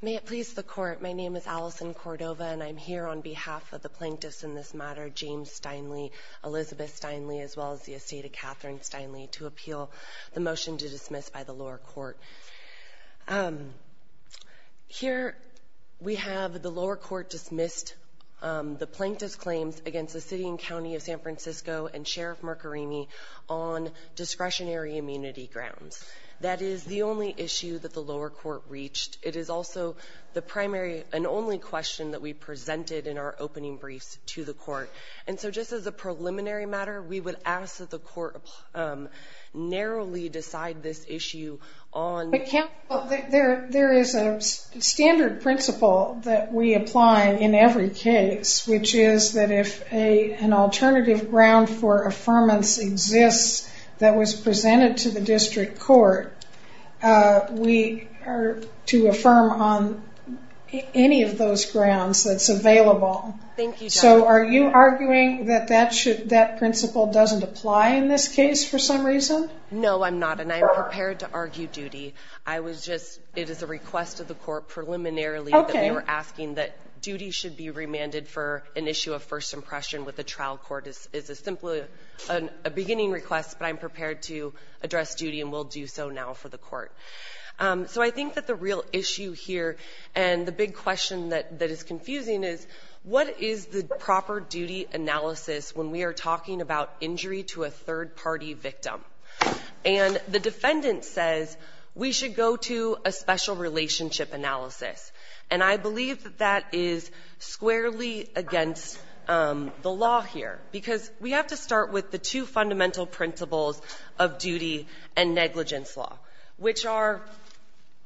May it please the Court, my name is Allison Cordova and I'm here on behalf of the Plaintiffs in this matter, James Steinle, Elizabeth Steinle, as well as the estate of Catherine Steinle, to appeal the motion to dismiss by the lower court. Here we have the lower court dismissed the Plaintiffs' claims against the City and County of San Francisco and Sheriff Marcarini on discretionary immunity grounds. That is the only issue that the lower court reached. It is also the primary and only question that we presented in our opening briefs to the court. And so just as a preliminary matter, we would ask that the court narrowly decide this issue on... There is a standard principle that we apply in every case, which is that if an alternative ground for affirmance exists that was presented to the district court, we are to affirm on any of those grounds that's available. Thank you. So are you arguing that that principle doesn't apply in this case for some reason? No, I'm not. And I'm prepared to argue duty. I was just... It is a request of the court preliminarily that we were asking that duty should be remanded for an issue of first impression with the trial court. It's a beginning request, but I'm prepared to address duty and will do so now for the court. So I think that the real issue here and the big question that is confusing is what is the proper duty analysis when we are talking about injury to a third-party victim? And the defendant says we should go to a special relationship analysis. And I believe that that is squarely against the law here, because we have to start with the two fundamental principles of duty and negligence law, which are...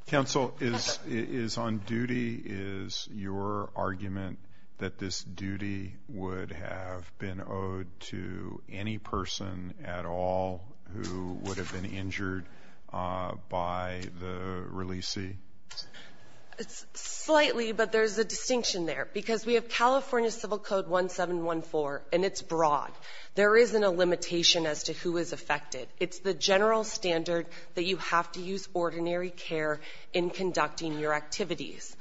Counsel, is on duty is your argument that this duty would have been owed to any person at all who would have been injured by the releasee? Slightly, but there's a distinction there, because we have California Civil Code 1714, and it's broad. There isn't a limitation as to who is affected. It's the general standard that you have to use ordinary care in conducting your activities.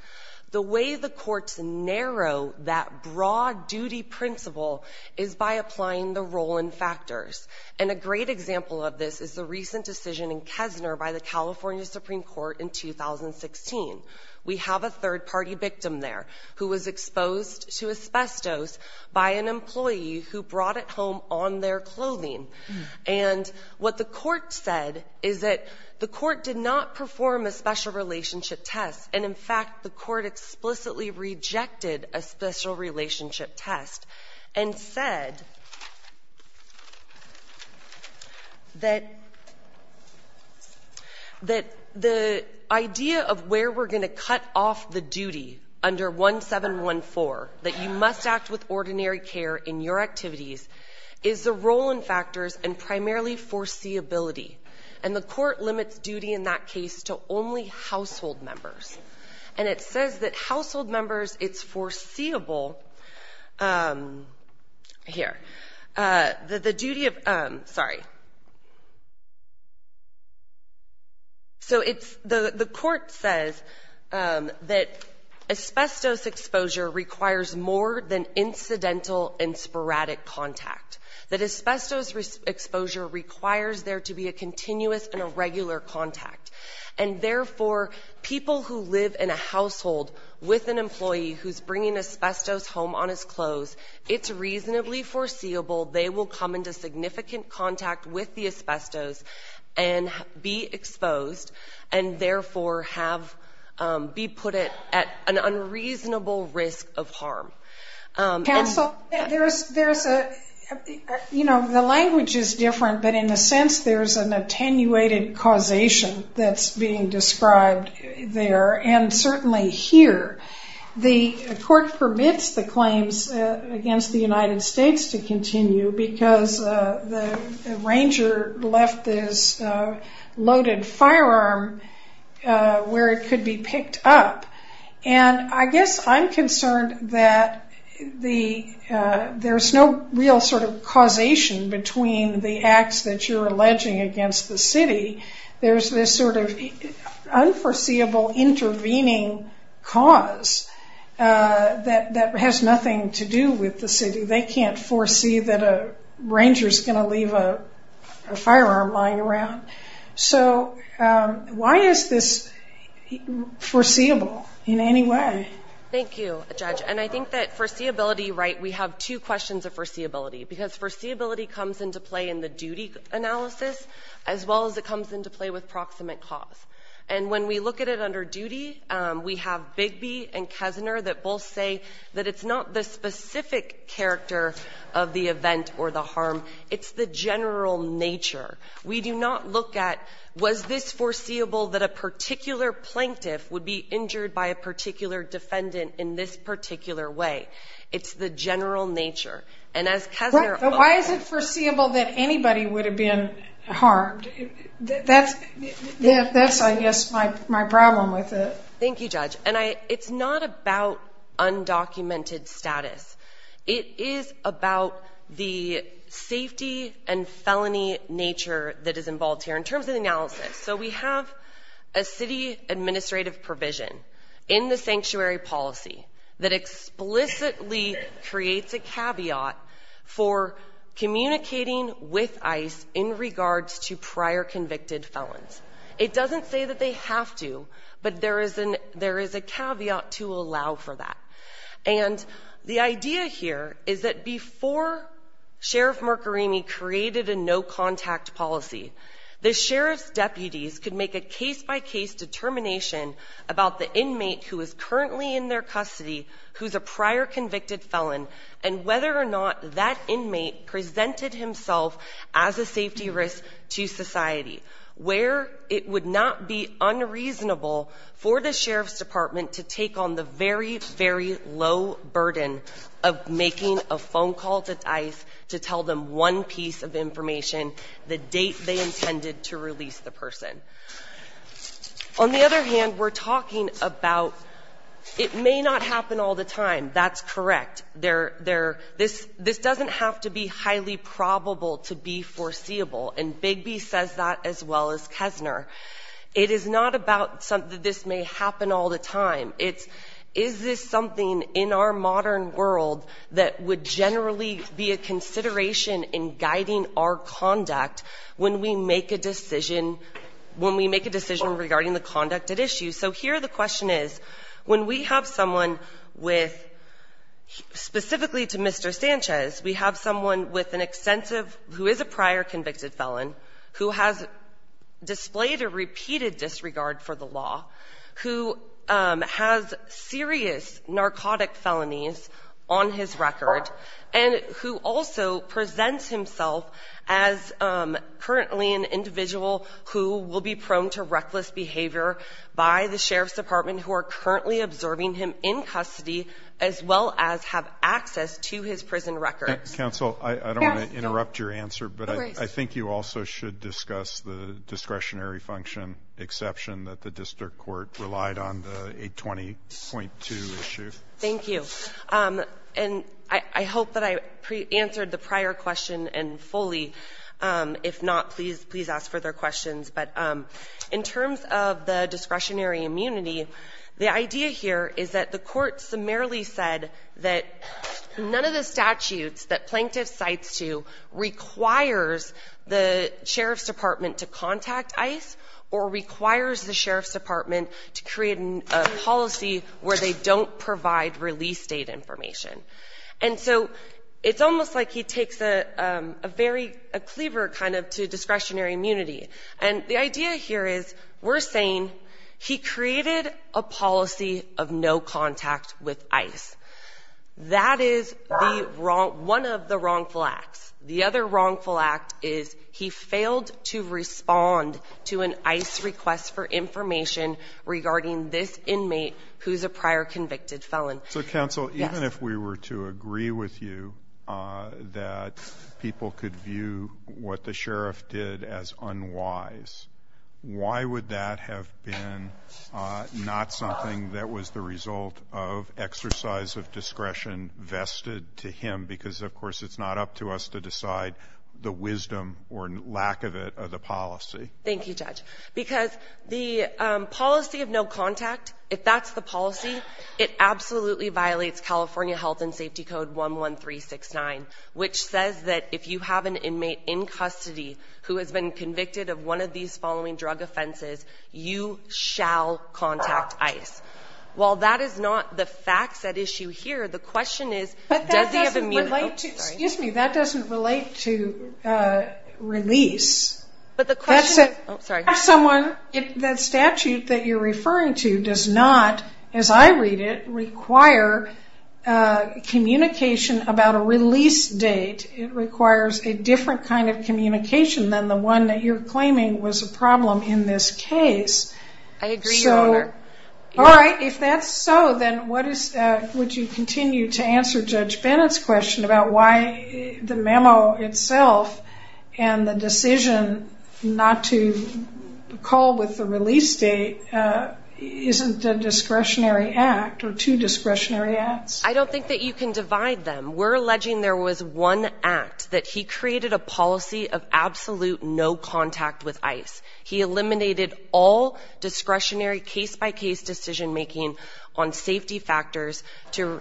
The way the courts narrow that broad duty principle is by applying the role and factors. And a great example of this is the recent decision in Kessner by the California Supreme Court in 2016. We have a third-party victim there who was exposed to asbestos by an employee who brought it home on their clothing. And what the Court said is that the Court did not perform a special relationship test, and, in fact, the Court explicitly rejected a special relationship test and said that the idea of where we're going to cut off the duty under 1714, that you must act with ordinary care in your activities, is the role and factors and primarily foreseeability. And the Court limits duty in that case to only household members. And it says that household members, it's foreseeable here. The duty of — sorry. So it's — the Court says that asbestos exposure requires more than incidental and sporadic contact, that asbestos exposure requires there to be a continuous and a regular contact. And, therefore, people who live in a household with an employee who's bringing asbestos home on his clothes, it's reasonably foreseeable they will come into significant contact with the asbestos and be exposed and, therefore, have — be put at an unreasonable risk of harm. Counsel, there's a — you know, the language is different, but in a sense there's an attenuated causation that's being described there. And certainly here, the Court permits the claims against the United States to continue because the ranger left this loaded firearm where it could be picked up. And I guess I'm concerned that there's no real sort of causation between the acts that you're alleging against the city. There's this sort of unforeseeable intervening cause that has nothing to do with the city. They can't foresee that a ranger's going to leave a firearm lying around. So why is this foreseeable in any way? Thank you, Judge. And I think that foreseeability — right, we have two questions of foreseeability, because foreseeability comes into play in the duty analysis as well as it comes into play with proximate cause. And when we look at it under duty, we have Bigby and Kessner that both say that it's not the specific character of the event or the harm. It's the general nature. We do not look at was this foreseeable that a particular plaintiff would be injured by a particular defendant in this particular way. It's the general nature. And as Kessner — But why is it foreseeable that anybody would have been harmed? That's, I guess, my problem with it. Thank you, Judge. And it's not about undocumented status. It is about the safety and felony nature that is involved here in terms of the analysis. So we have a city administrative provision in the sanctuary policy that explicitly creates a caveat for communicating with ICE in regards to prior convicted felons. It doesn't say that they have to, but there is a caveat to allow for that. And the idea here is that before Sheriff Marcarini created a no-contact policy, the sheriff's deputies could make a case-by-case determination about the inmate who is currently in their custody, who's a prior convicted felon, and whether or not that inmate presented himself as a safety risk to society, where it would not be unreasonable for the sheriff's department to take on the very, very low burden of making a phone call to ICE to tell them one piece of information, the date they intended to release the person. On the other hand, we're talking about it may not happen all the time. That's correct. This doesn't have to be highly probable to be foreseeable. And Bigby says that as well as Kessner. It is not about something that this may happen all the time. It's, is this something in our modern world that would generally be a consideration in guiding our conduct when we make a decision, when we make a decision regarding the conduct at issue? So here the question is, when we have someone with, specifically to Mr. Sanchez, we have someone with an extensive, who is a prior convicted felon, who has displayed a repeated disregard for the law, who has serious narcotic felonies on his record, and who also presents himself as currently an individual who will be prone to reckless behavior by the sheriff's counsel. I don't want to interrupt your answer, but I think you also should discuss the discretionary function exception that the district court relied on the 820.2 issue. Thank you. And I hope that I answered the prior question and fully. If not, please, please ask further questions. But in terms of the discretionary immunity, the idea here is that the court summarily said that none of the statutes that Plaintiff cites to requires the sheriff's department to contact ICE or requires the sheriff's department to create a policy where they don't provide release date information. And so it's almost like he takes a very, a cleaver kind of to discretionary immunity. And the idea here is we're saying he created a policy of no contact with ICE. That is one of the wrongful acts. The other wrongful act is he failed to respond to an ICE request for information regarding this inmate who's a prior convicted felon. So, counsel, even if we were to agree with you that people could view what the statute says otherwise, why would that have been not something that was the result of exercise of discretion vested to him? Because, of course, it's not up to us to decide the wisdom or lack of it of the policy. Thank you, Judge. Because the policy of no contact, if that's the policy, it absolutely violates California Health and Safety Code 11369, which says that if you have an inmate in custody who has been convicted of one of these following drug offenses, you shall contact ICE. While that is not the facts at issue here, the question is, does he have immuno? But that doesn't relate to, excuse me, that doesn't relate to release. But the question is, if someone, if that statute that you're referring to does not, as I read it, require communication about a release date, it requires a different kind of communication than the one that you're claiming was a problem in this case. I agree, Your Honor. All right. If that's so, then what is, would you continue to answer Judge Bennett's question about why the memo itself and the decision not to call with the release date isn't a discretionary act or two discretionary acts? I don't think that you can divide them. We're alleging there was one act that he created a policy of absolute no contact with ICE. He eliminated all discretionary case-by-case decision-making on safety factors to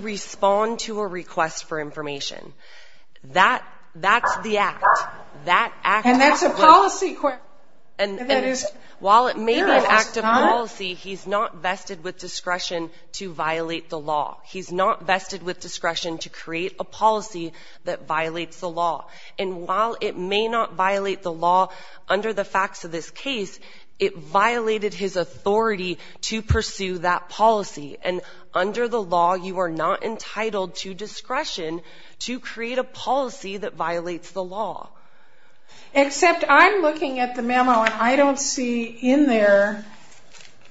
respond to a request for information. That's the act. And that's a policy question. And that is not? While it may be an act of policy, he's not vested with discretion to violate the law. He's not vested with discretion to create a policy that violates the law. And while it may not violate the law under the facts of this case, it violated his authority to pursue that policy. And under the law, you are not entitled to discretion to create a policy that violates the law. Except I'm looking at the memo, and I don't see in there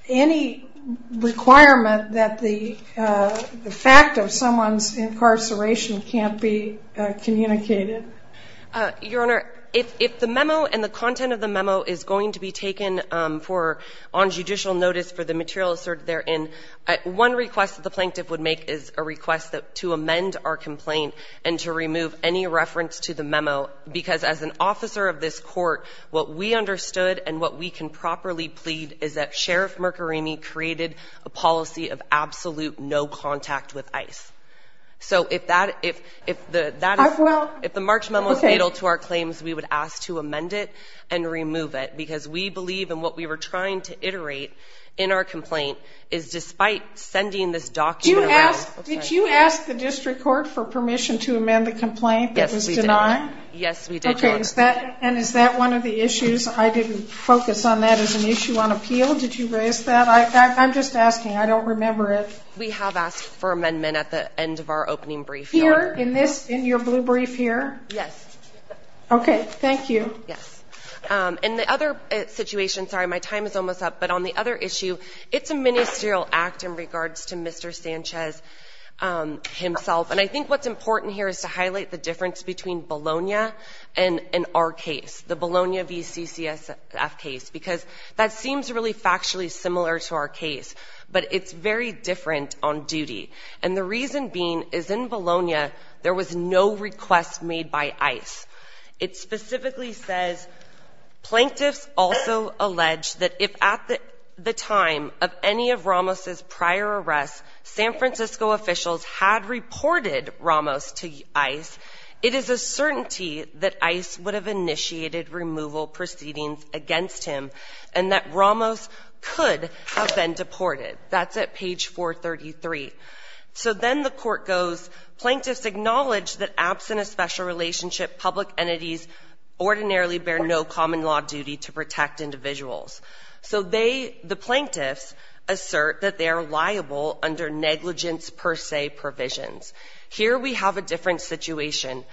any requirement that the fact of someone's incarceration can't be communicated. Your Honor, if the memo and the content of the memo is going to be taken on judicial notice for the material asserted therein, one request that the plaintiff would make is a request to amend our complaint and to remove any reference to the memo because as an officer of this court, what we understood and what we can properly plead is that Sheriff Mercoremi created a policy of absolute no contact with ICE. So if the March memo is fatal to our claims, we would ask to amend it and remove it because we believe in what we were trying to iterate in our complaint is despite sending this document around. Did you ask the district court for permission to amend the complaint that was submitted? Yes, we did, Your Honor. Okay. And is that one of the issues? I didn't focus on that as an issue on appeal. Did you raise that? I'm just asking. I don't remember it. We have asked for amendment at the end of our opening brief, Your Honor. Here, in this, in your blue brief here? Yes. Okay. Thank you. Yes. And the other situation, sorry, my time is almost up, but on the other issue, it's a ministerial act in regards to Mr. Sanchez himself. And I think what's important here is to highlight the difference between Bologna and our case, the Bologna v. CCSF case, because that seems really factually similar to our case, but it's very different on duty. And the reason being is in Bologna, there was no request made by ICE. It specifically says, Plaintiffs also allege that if at the time of any of Ramos' prior arrests, San Francisco officials had reported Ramos to ICE, it is a certainty that ICE would have initiated removal proceedings against him and that Ramos could have been deported. That's at page 433. So then the court goes, Plaintiffs acknowledge that absent a special relationship, public entities ordinarily bear no common law duty to protect individuals. So they, the Plaintiffs, assert that they are liable under negligence per se provisions. Here we have a different situation.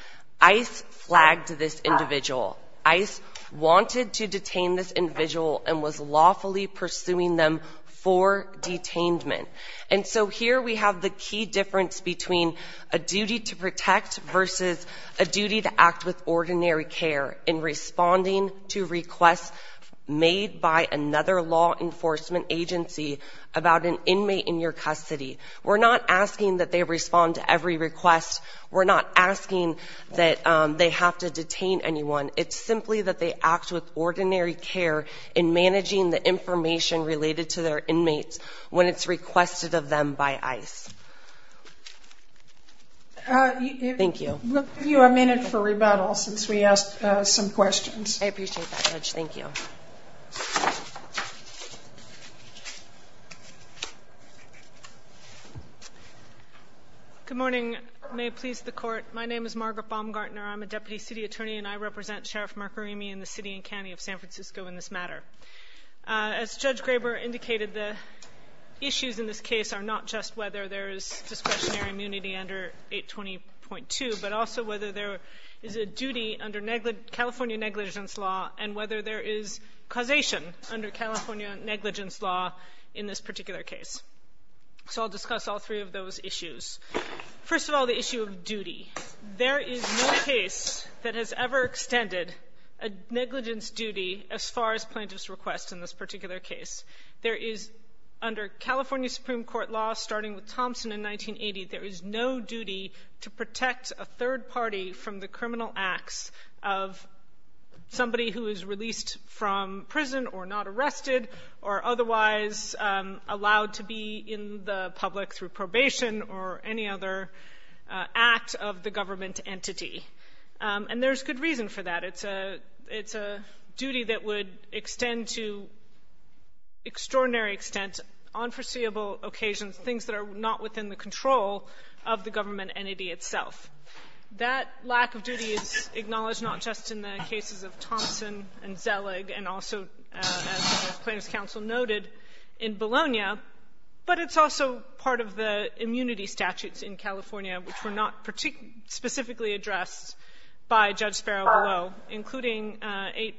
ICE flagged this individual. ICE wanted to detain this individual and was lawfully pursuing them for detainment. And so here we have the key difference between a duty to protect versus a duty to request made by another law enforcement agency about an inmate in your custody. We're not asking that they respond to every request. We're not asking that they have to detain anyone. It's simply that they act with ordinary care in managing the information related to their inmates when it's requested of them by ICE. Thank you. We'll give you a minute for rebuttal since we asked some questions. I appreciate that, Judge. Thank you. Good morning. May it please the Court. My name is Margaret Baumgartner. I'm a Deputy City Attorney, and I represent Sheriff Marcorimi and the City and County of San Francisco in this matter. As Judge Graber indicated, the issues in this case are not just whether there is discretionary immunity under 820.2, but also whether there is a duty under California negligence law and whether there is causation under California negligence law in this particular case. So I'll discuss all three of those issues. First of all, the issue of duty. There is no case that has ever extended a negligence duty as far as plaintiff's request in this particular case. Under California Supreme Court law, starting with Thompson in 1980, there is no duty to protect a third party from the criminal acts of somebody who is released from prison or not arrested or otherwise allowed to be in the public through probation or any other act of the government entity. And there's good reason for that. It's a duty that would extend to extraordinary extent on foreseeable occasions things that are not within the control of the government entity itself. That lack of duty is acknowledged not just in the cases of Thompson and Zellig and also, as plaintiff's counsel noted, in Bologna, but it's also part of the immunity statutes in California which were not specifically addressed by Judge Sparrow below, including I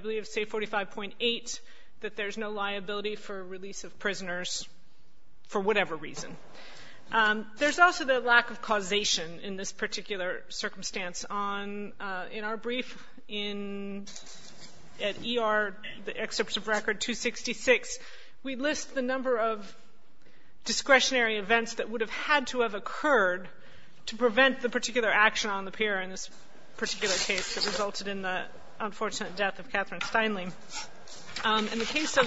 believe, say, 45.8, that there's no liability for release of prisoners for whatever reason. There's also the lack of causation in this particular circumstance. In our brief in ER, the excerpt of record 266, we list the number of discretionary events that would have had to have occurred to prevent the particular action on the pier in this particular case that resulted in the unfortunate death of Catherine Steinlein. In the case of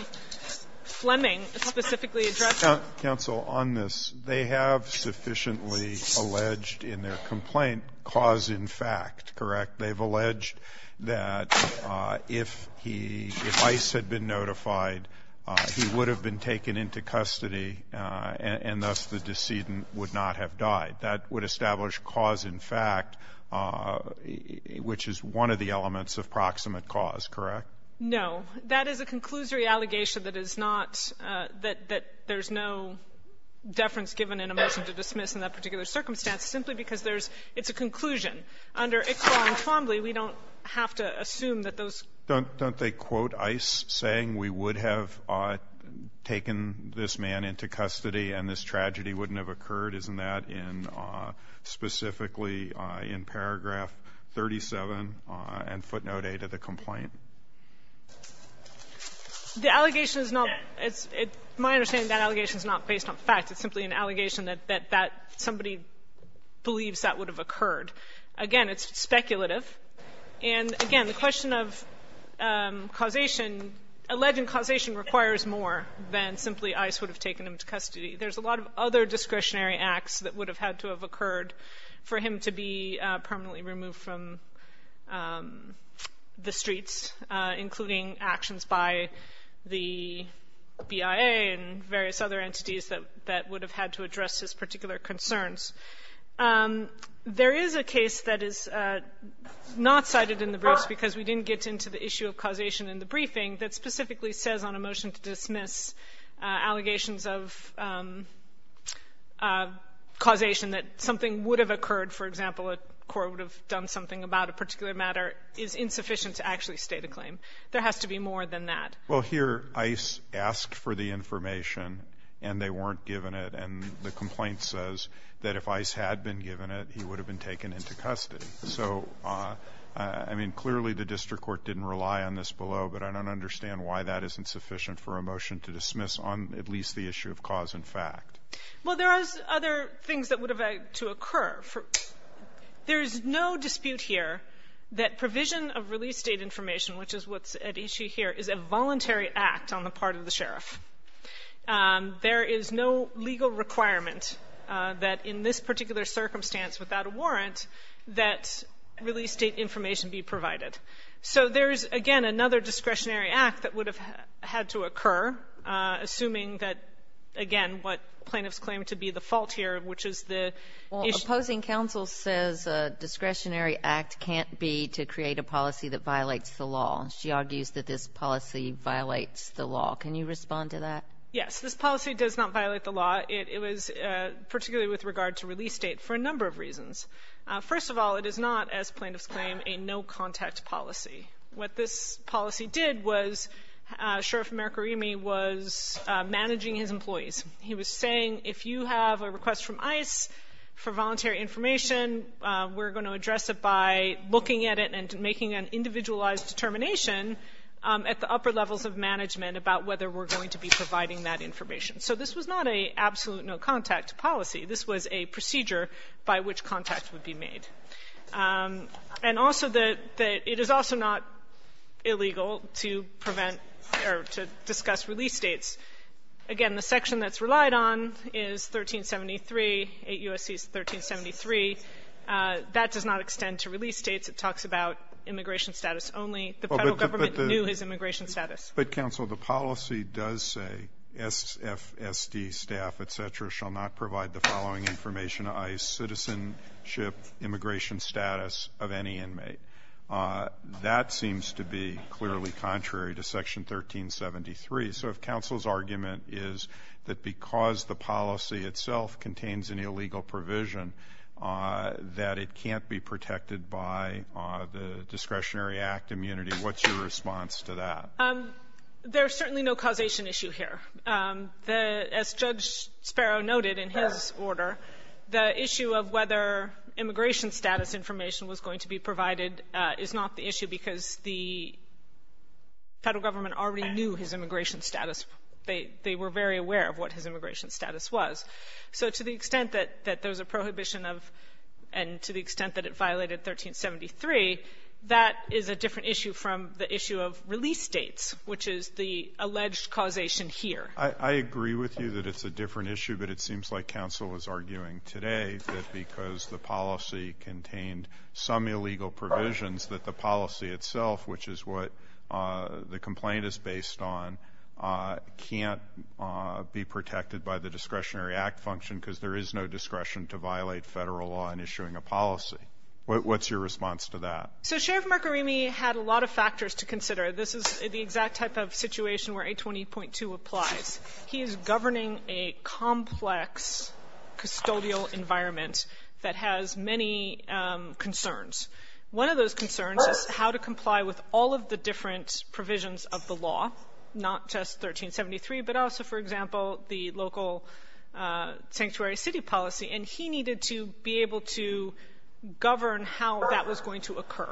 Fleming, specifically addressed by the plaintiff's counsel on this, they have sufficiently alleged in their complaint cause in fact, correct? They've alleged that if he, if Ice had been notified, he would have been taken into custody, and thus the decedent would not have died. That would establish cause in fact, which is one of the elements of proximate cause, correct? No. That is a conclusory allegation that is not, that there's no deference given in a motion to dismiss in that particular circumstance, simply because there's, it's a conclusion. Under Iqbal and Twombly, we don't have to assume that those. Don't they quote Ice saying we would have taken this man into custody and this tragedy wouldn't have occurred? Isn't that in specifically in paragraph 37 and footnote 8 of the complaint? The allegation is not, it's, my understanding of that allegation is not based on fact. It's simply an allegation that, that somebody believes that would have occurred. Again, it's speculative. And again, the question of causation, alleged causation requires more than simply Ice would have taken him to custody. There's a lot of other discretionary acts that would have had to have occurred for him to be permanently removed from the streets, including actions by the BIA and various other entities that would have had to address his particular concerns. There is a case that is not cited in the briefs because we didn't get into the issue of causation in the briefing that specifically says on a motion to dismiss allegations of causation that something would have occurred. For example, a court would have done something about a particular matter is insufficient to actually state a claim. There has to be more than that. Well, here Ice asked for the information and they weren't given it, and the complaint says that if Ice had been given it, he would have been taken into custody. So, I mean, clearly the district court didn't rely on this below, but I don't understand why that isn't sufficient for a motion to dismiss on at least the issue of cause and fact. Well, there is other things that would have had to occur. There is no dispute here that provision of release date information, which is what's at issue here, is a voluntary act on the part of the sheriff. There is no legal requirement that in this particular circumstance without a warrant, that release date information be provided. So there is, again, another discretionary act that would have had to occur, assuming that, again, what plaintiffs claim to be the fault here, which is the issue. Well, opposing counsel says a discretionary act can't be to create a policy that violates the law. She argues that this policy violates the law. Can you respond to that? Yes. This policy does not violate the law. It was particularly with regard to release date for a number of reasons. First of all, it is not, as plaintiffs claim, a no-contact policy. What this policy did was Sheriff Mercorimi was managing his employees. He was saying if you have a request from ICE for voluntary information, we're going to address it by looking at it and making an individualized determination at the upper levels of management about whether we're going to be providing that information. So this was not an absolute no-contact policy. This was a procedure by which contact would be made. And also that it is also not illegal to prevent or to discuss release dates. Again, the section that's relied on is 1373, 8 U.S.C. 1373. That does not extend to release dates. It talks about immigration status only. The Federal government knew his immigration status. But, counsel, the policy does say SFSD staff, et cetera, shall not provide the following information to ICE, citizenship, immigration status of any inmate. That seems to be clearly contrary to Section 1373. So if counsel's argument is that because the policy itself contains an illegal provision, that it can't be protected by the discretionary act immunity, what's your response to that? There's certainly no causation issue here. As Judge Sparrow noted in his order, the issue of whether immigration status information was going to be provided is not the issue because the Federal government already knew his immigration status. They were very aware of what his immigration status was. So to the extent that there's a prohibition of and to the extent that it violated 1373, that is a different issue from the issue of release dates, which is the alleged causation here. I agree with you that it's a different issue, but it seems like counsel is arguing today that because the policy contained some illegal provisions, that the policy itself, which is what the complaint is based on, can't be protected by the discretionary act function because there is no discretion to violate Federal law in issuing a policy. What's your response to that? So Sheriff Mercorimi had a lot of factors to consider. This is the exact type of situation where 820.2 applies. He is governing a complex custodial environment that has many concerns. One of those concerns is how to comply with all of the different provisions of the law, not just 1373, but also, for example, the local sanctuary city policy. And he needed to be able to govern how that was going to occur.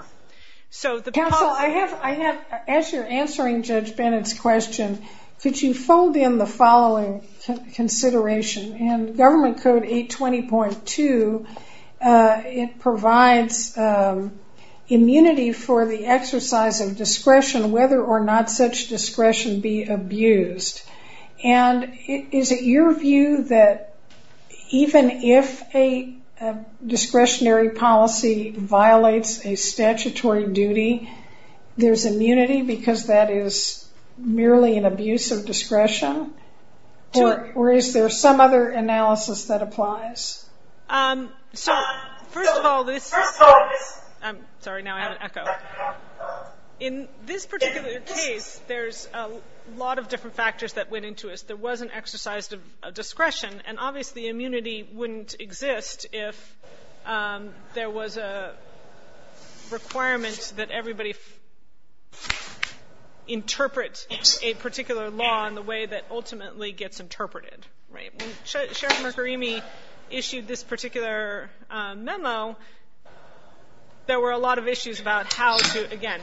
Counsel, as you're answering Judge Bennett's question, could you fold in the following consideration? In Government Code 820.2, it provides immunity for the exercise of discretion whether or not such discretion be abused. And is it your view that even if a discretionary policy violates a statutory duty, there's immunity because that is merely an abuse of discretion? Or is there some other analysis that applies? So first of all, this ‑‑ First of all, this ‑‑ I'm sorry, now I have an echo. In this particular case, there's a lot of different factors that went into it. There was an exercise of discretion, and obviously immunity wouldn't exist if there was a requirement that everybody interpret a particular law in the way that ultimately gets interpreted. When Sheriff Mercorimi issued this particular memo, there were a lot of issues about how to, again,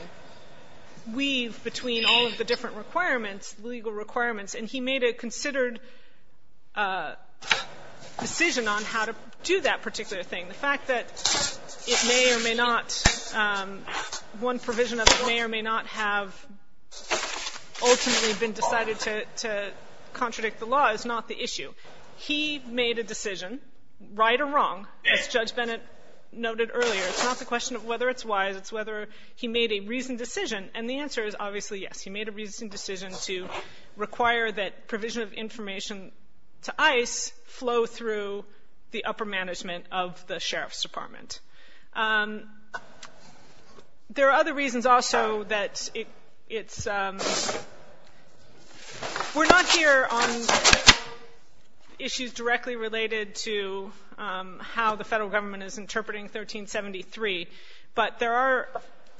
weave between all of the different requirements, legal requirements, and he made a considered decision on how to do that particular thing. The fact that it may or may not, one provision of it may or may not have ultimately been decided to contradict the law is not the issue. He made a decision, right or wrong, as Judge Bennett noted earlier. It's not the question of whether it's wise. It's whether he made a reasoned decision, and the answer is obviously yes. He made a reasoned decision to require that provision of information to ICE flow through the upper management of the Sheriff's Department. There are other reasons also that it's we're not here on issues directly related to how the Federal government is interpreting 1373, but there are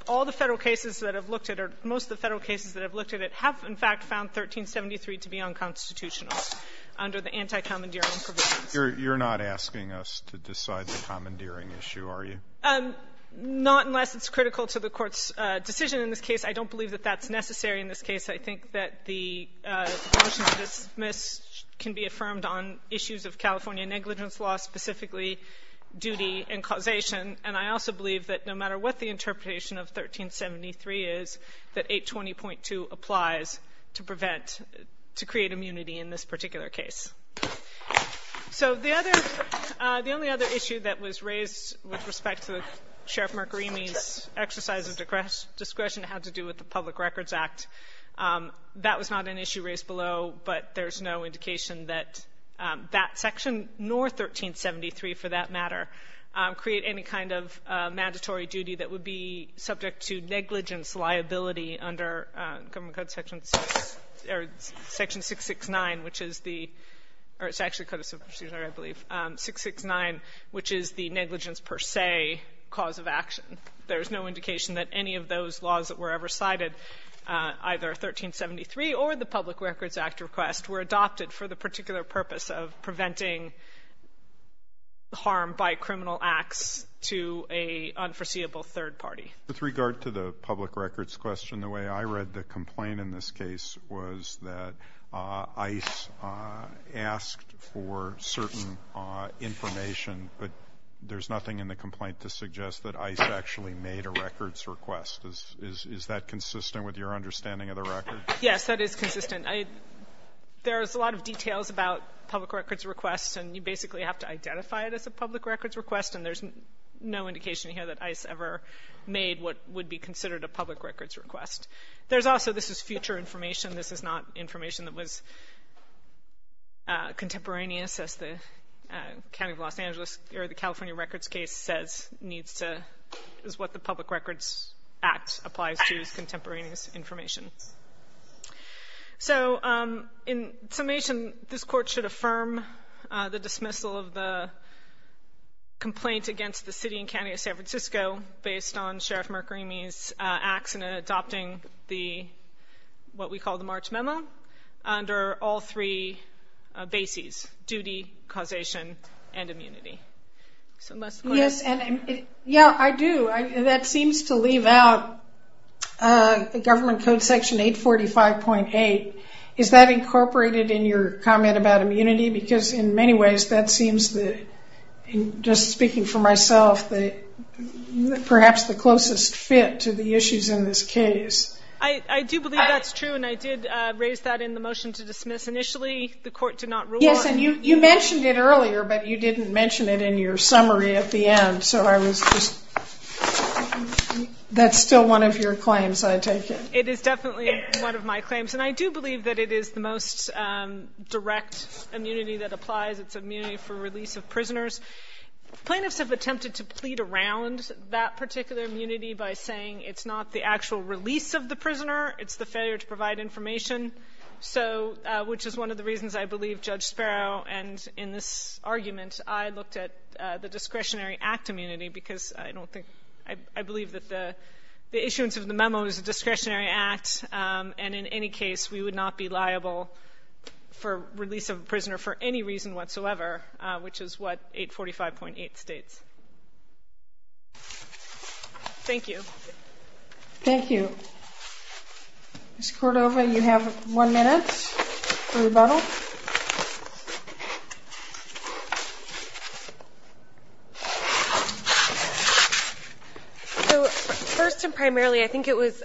all the Federal cases that I've looked at, or most of the Federal cases that I've looked at, have in fact found 1373 to be unconstitutional under the anti-commandeering provisions. You're not asking us to decide the commandeering issue, are you? Not unless it's critical to the Court's decision in this case. I don't believe that that's necessary in this case. I think that the motion to dismiss can be affirmed on issues of California negligence law, specifically duty and causation, and I also believe that no matter what the interpretation of 1373 is, that 820.2 applies to prevent, to create immunity in this particular case. So the only other issue that was raised with respect to Sheriff Mercury's exercise of discretion had to do with the Public Records Act. That was not an issue raised below, but there's no indication that that section, nor 1373 for that matter, create any kind of mandatory duty that would be subject to negligence liability under Government Code Section 6 or Section 669, which is the, or it's actually Code of Substitution, I believe, 669, which is the negligence per se cause of action. There's no indication that any of those laws that were ever cited, either 1373 or the Public Records Act request, were adopted for the particular purpose of preventing harm by criminal acts to an unforeseeable third party. With regard to the Public Records question, the way I read the complaint in this case was that ICE asked for certain information, but there's nothing in the complaint to suggest that ICE actually made a records request. Is that consistent with your understanding of the record? Yes, that is consistent. There's a lot of details about public records requests, and you basically have to identify it as a public records request, and there's no indication here that ICE ever made what would be considered a public records request. There's also, this is future information. This is not information that was contemporaneous, as the County of Los Angeles, or the California Records case says needs to, is what the Public Records Act applies to as contemporaneous information. So, in summation, this Court should affirm the dismissal of the complaint against the City and County of San Francisco based on Sheriff Mercury's acts in adopting the, what we call the March Memo, under all three bases, duty, causation, and immunity. Yes, and, yeah, I do. That seems to leave out Government Code Section 845.8. Is that incorporated in your comment about immunity? Because, in many ways, that seems, just speaking for myself, perhaps the closest fit to the issues in this case. I do believe that's true, and I did raise that in the motion to dismiss. Initially, the Court did not rule on it. Yes, and you mentioned it earlier, but you didn't mention it in your summary at the end. So I was just, that's still one of your claims, I take it. It is definitely one of my claims, and I do believe that it is the most direct immunity that applies. It's immunity for release of prisoners. Plaintiffs have attempted to plead around that particular immunity by saying it's not the actual release of the prisoner, it's the failure to provide information, which is one of the reasons I believe Judge Sparrow, and in this argument, I looked at the discretionary act immunity because I don't think, I believe that the issuance of the memo is a discretionary act, and in any case we would not be liable for release of a prisoner for any reason whatsoever, which is what 845.8 states. Thank you. Thank you. Ms. Cordova, you have one minute for rebuttal. So first and primarily, I think it was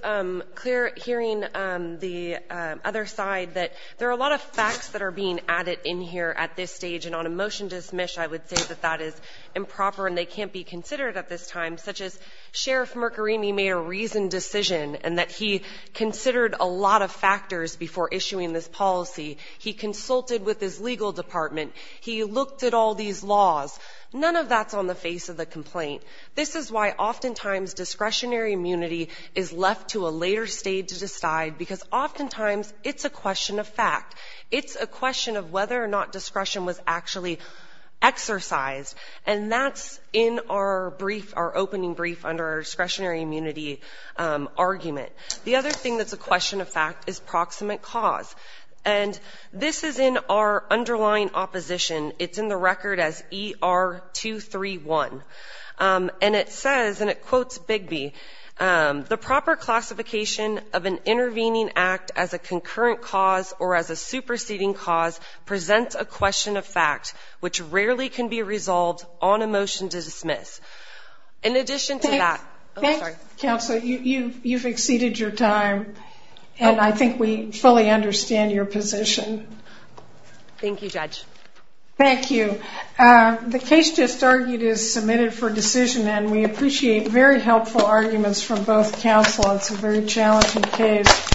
clear hearing the other side that there are a lot of facts that are being added in here at this stage, and on a motion to dismiss, I would say that that is improper and they can't be considered at this time, such as Sheriff Mercorini made a reasoned decision and that he considered a lot of factors before issuing this policy. He consulted with his legal department. He looked at all these laws. None of that's on the face of the complaint. This is why oftentimes discretionary immunity is left to a later stage to decide because oftentimes it's a question of fact. It's a question of whether or not discretion was actually exercised, and that's in our brief, our opening brief under our discretionary immunity argument. The other thing that's a question of fact is proximate cause. And this is in our underlying opposition. It's in the record as ER231. And it says, and it quotes Bigby, the proper classification of an intervening act as a concurrent cause or as a superseding cause presents a question of fact which rarely can be resolved on a motion to dismiss. In addition to that ‑‑ Thanks. Oh, sorry. Counsel, you've exceeded your time, and I think we fully understand your position. Thank you, Judge. Thank you. The case just argued is submitted for decision, and we appreciate very helpful arguments from both counsel. It's a very challenging case.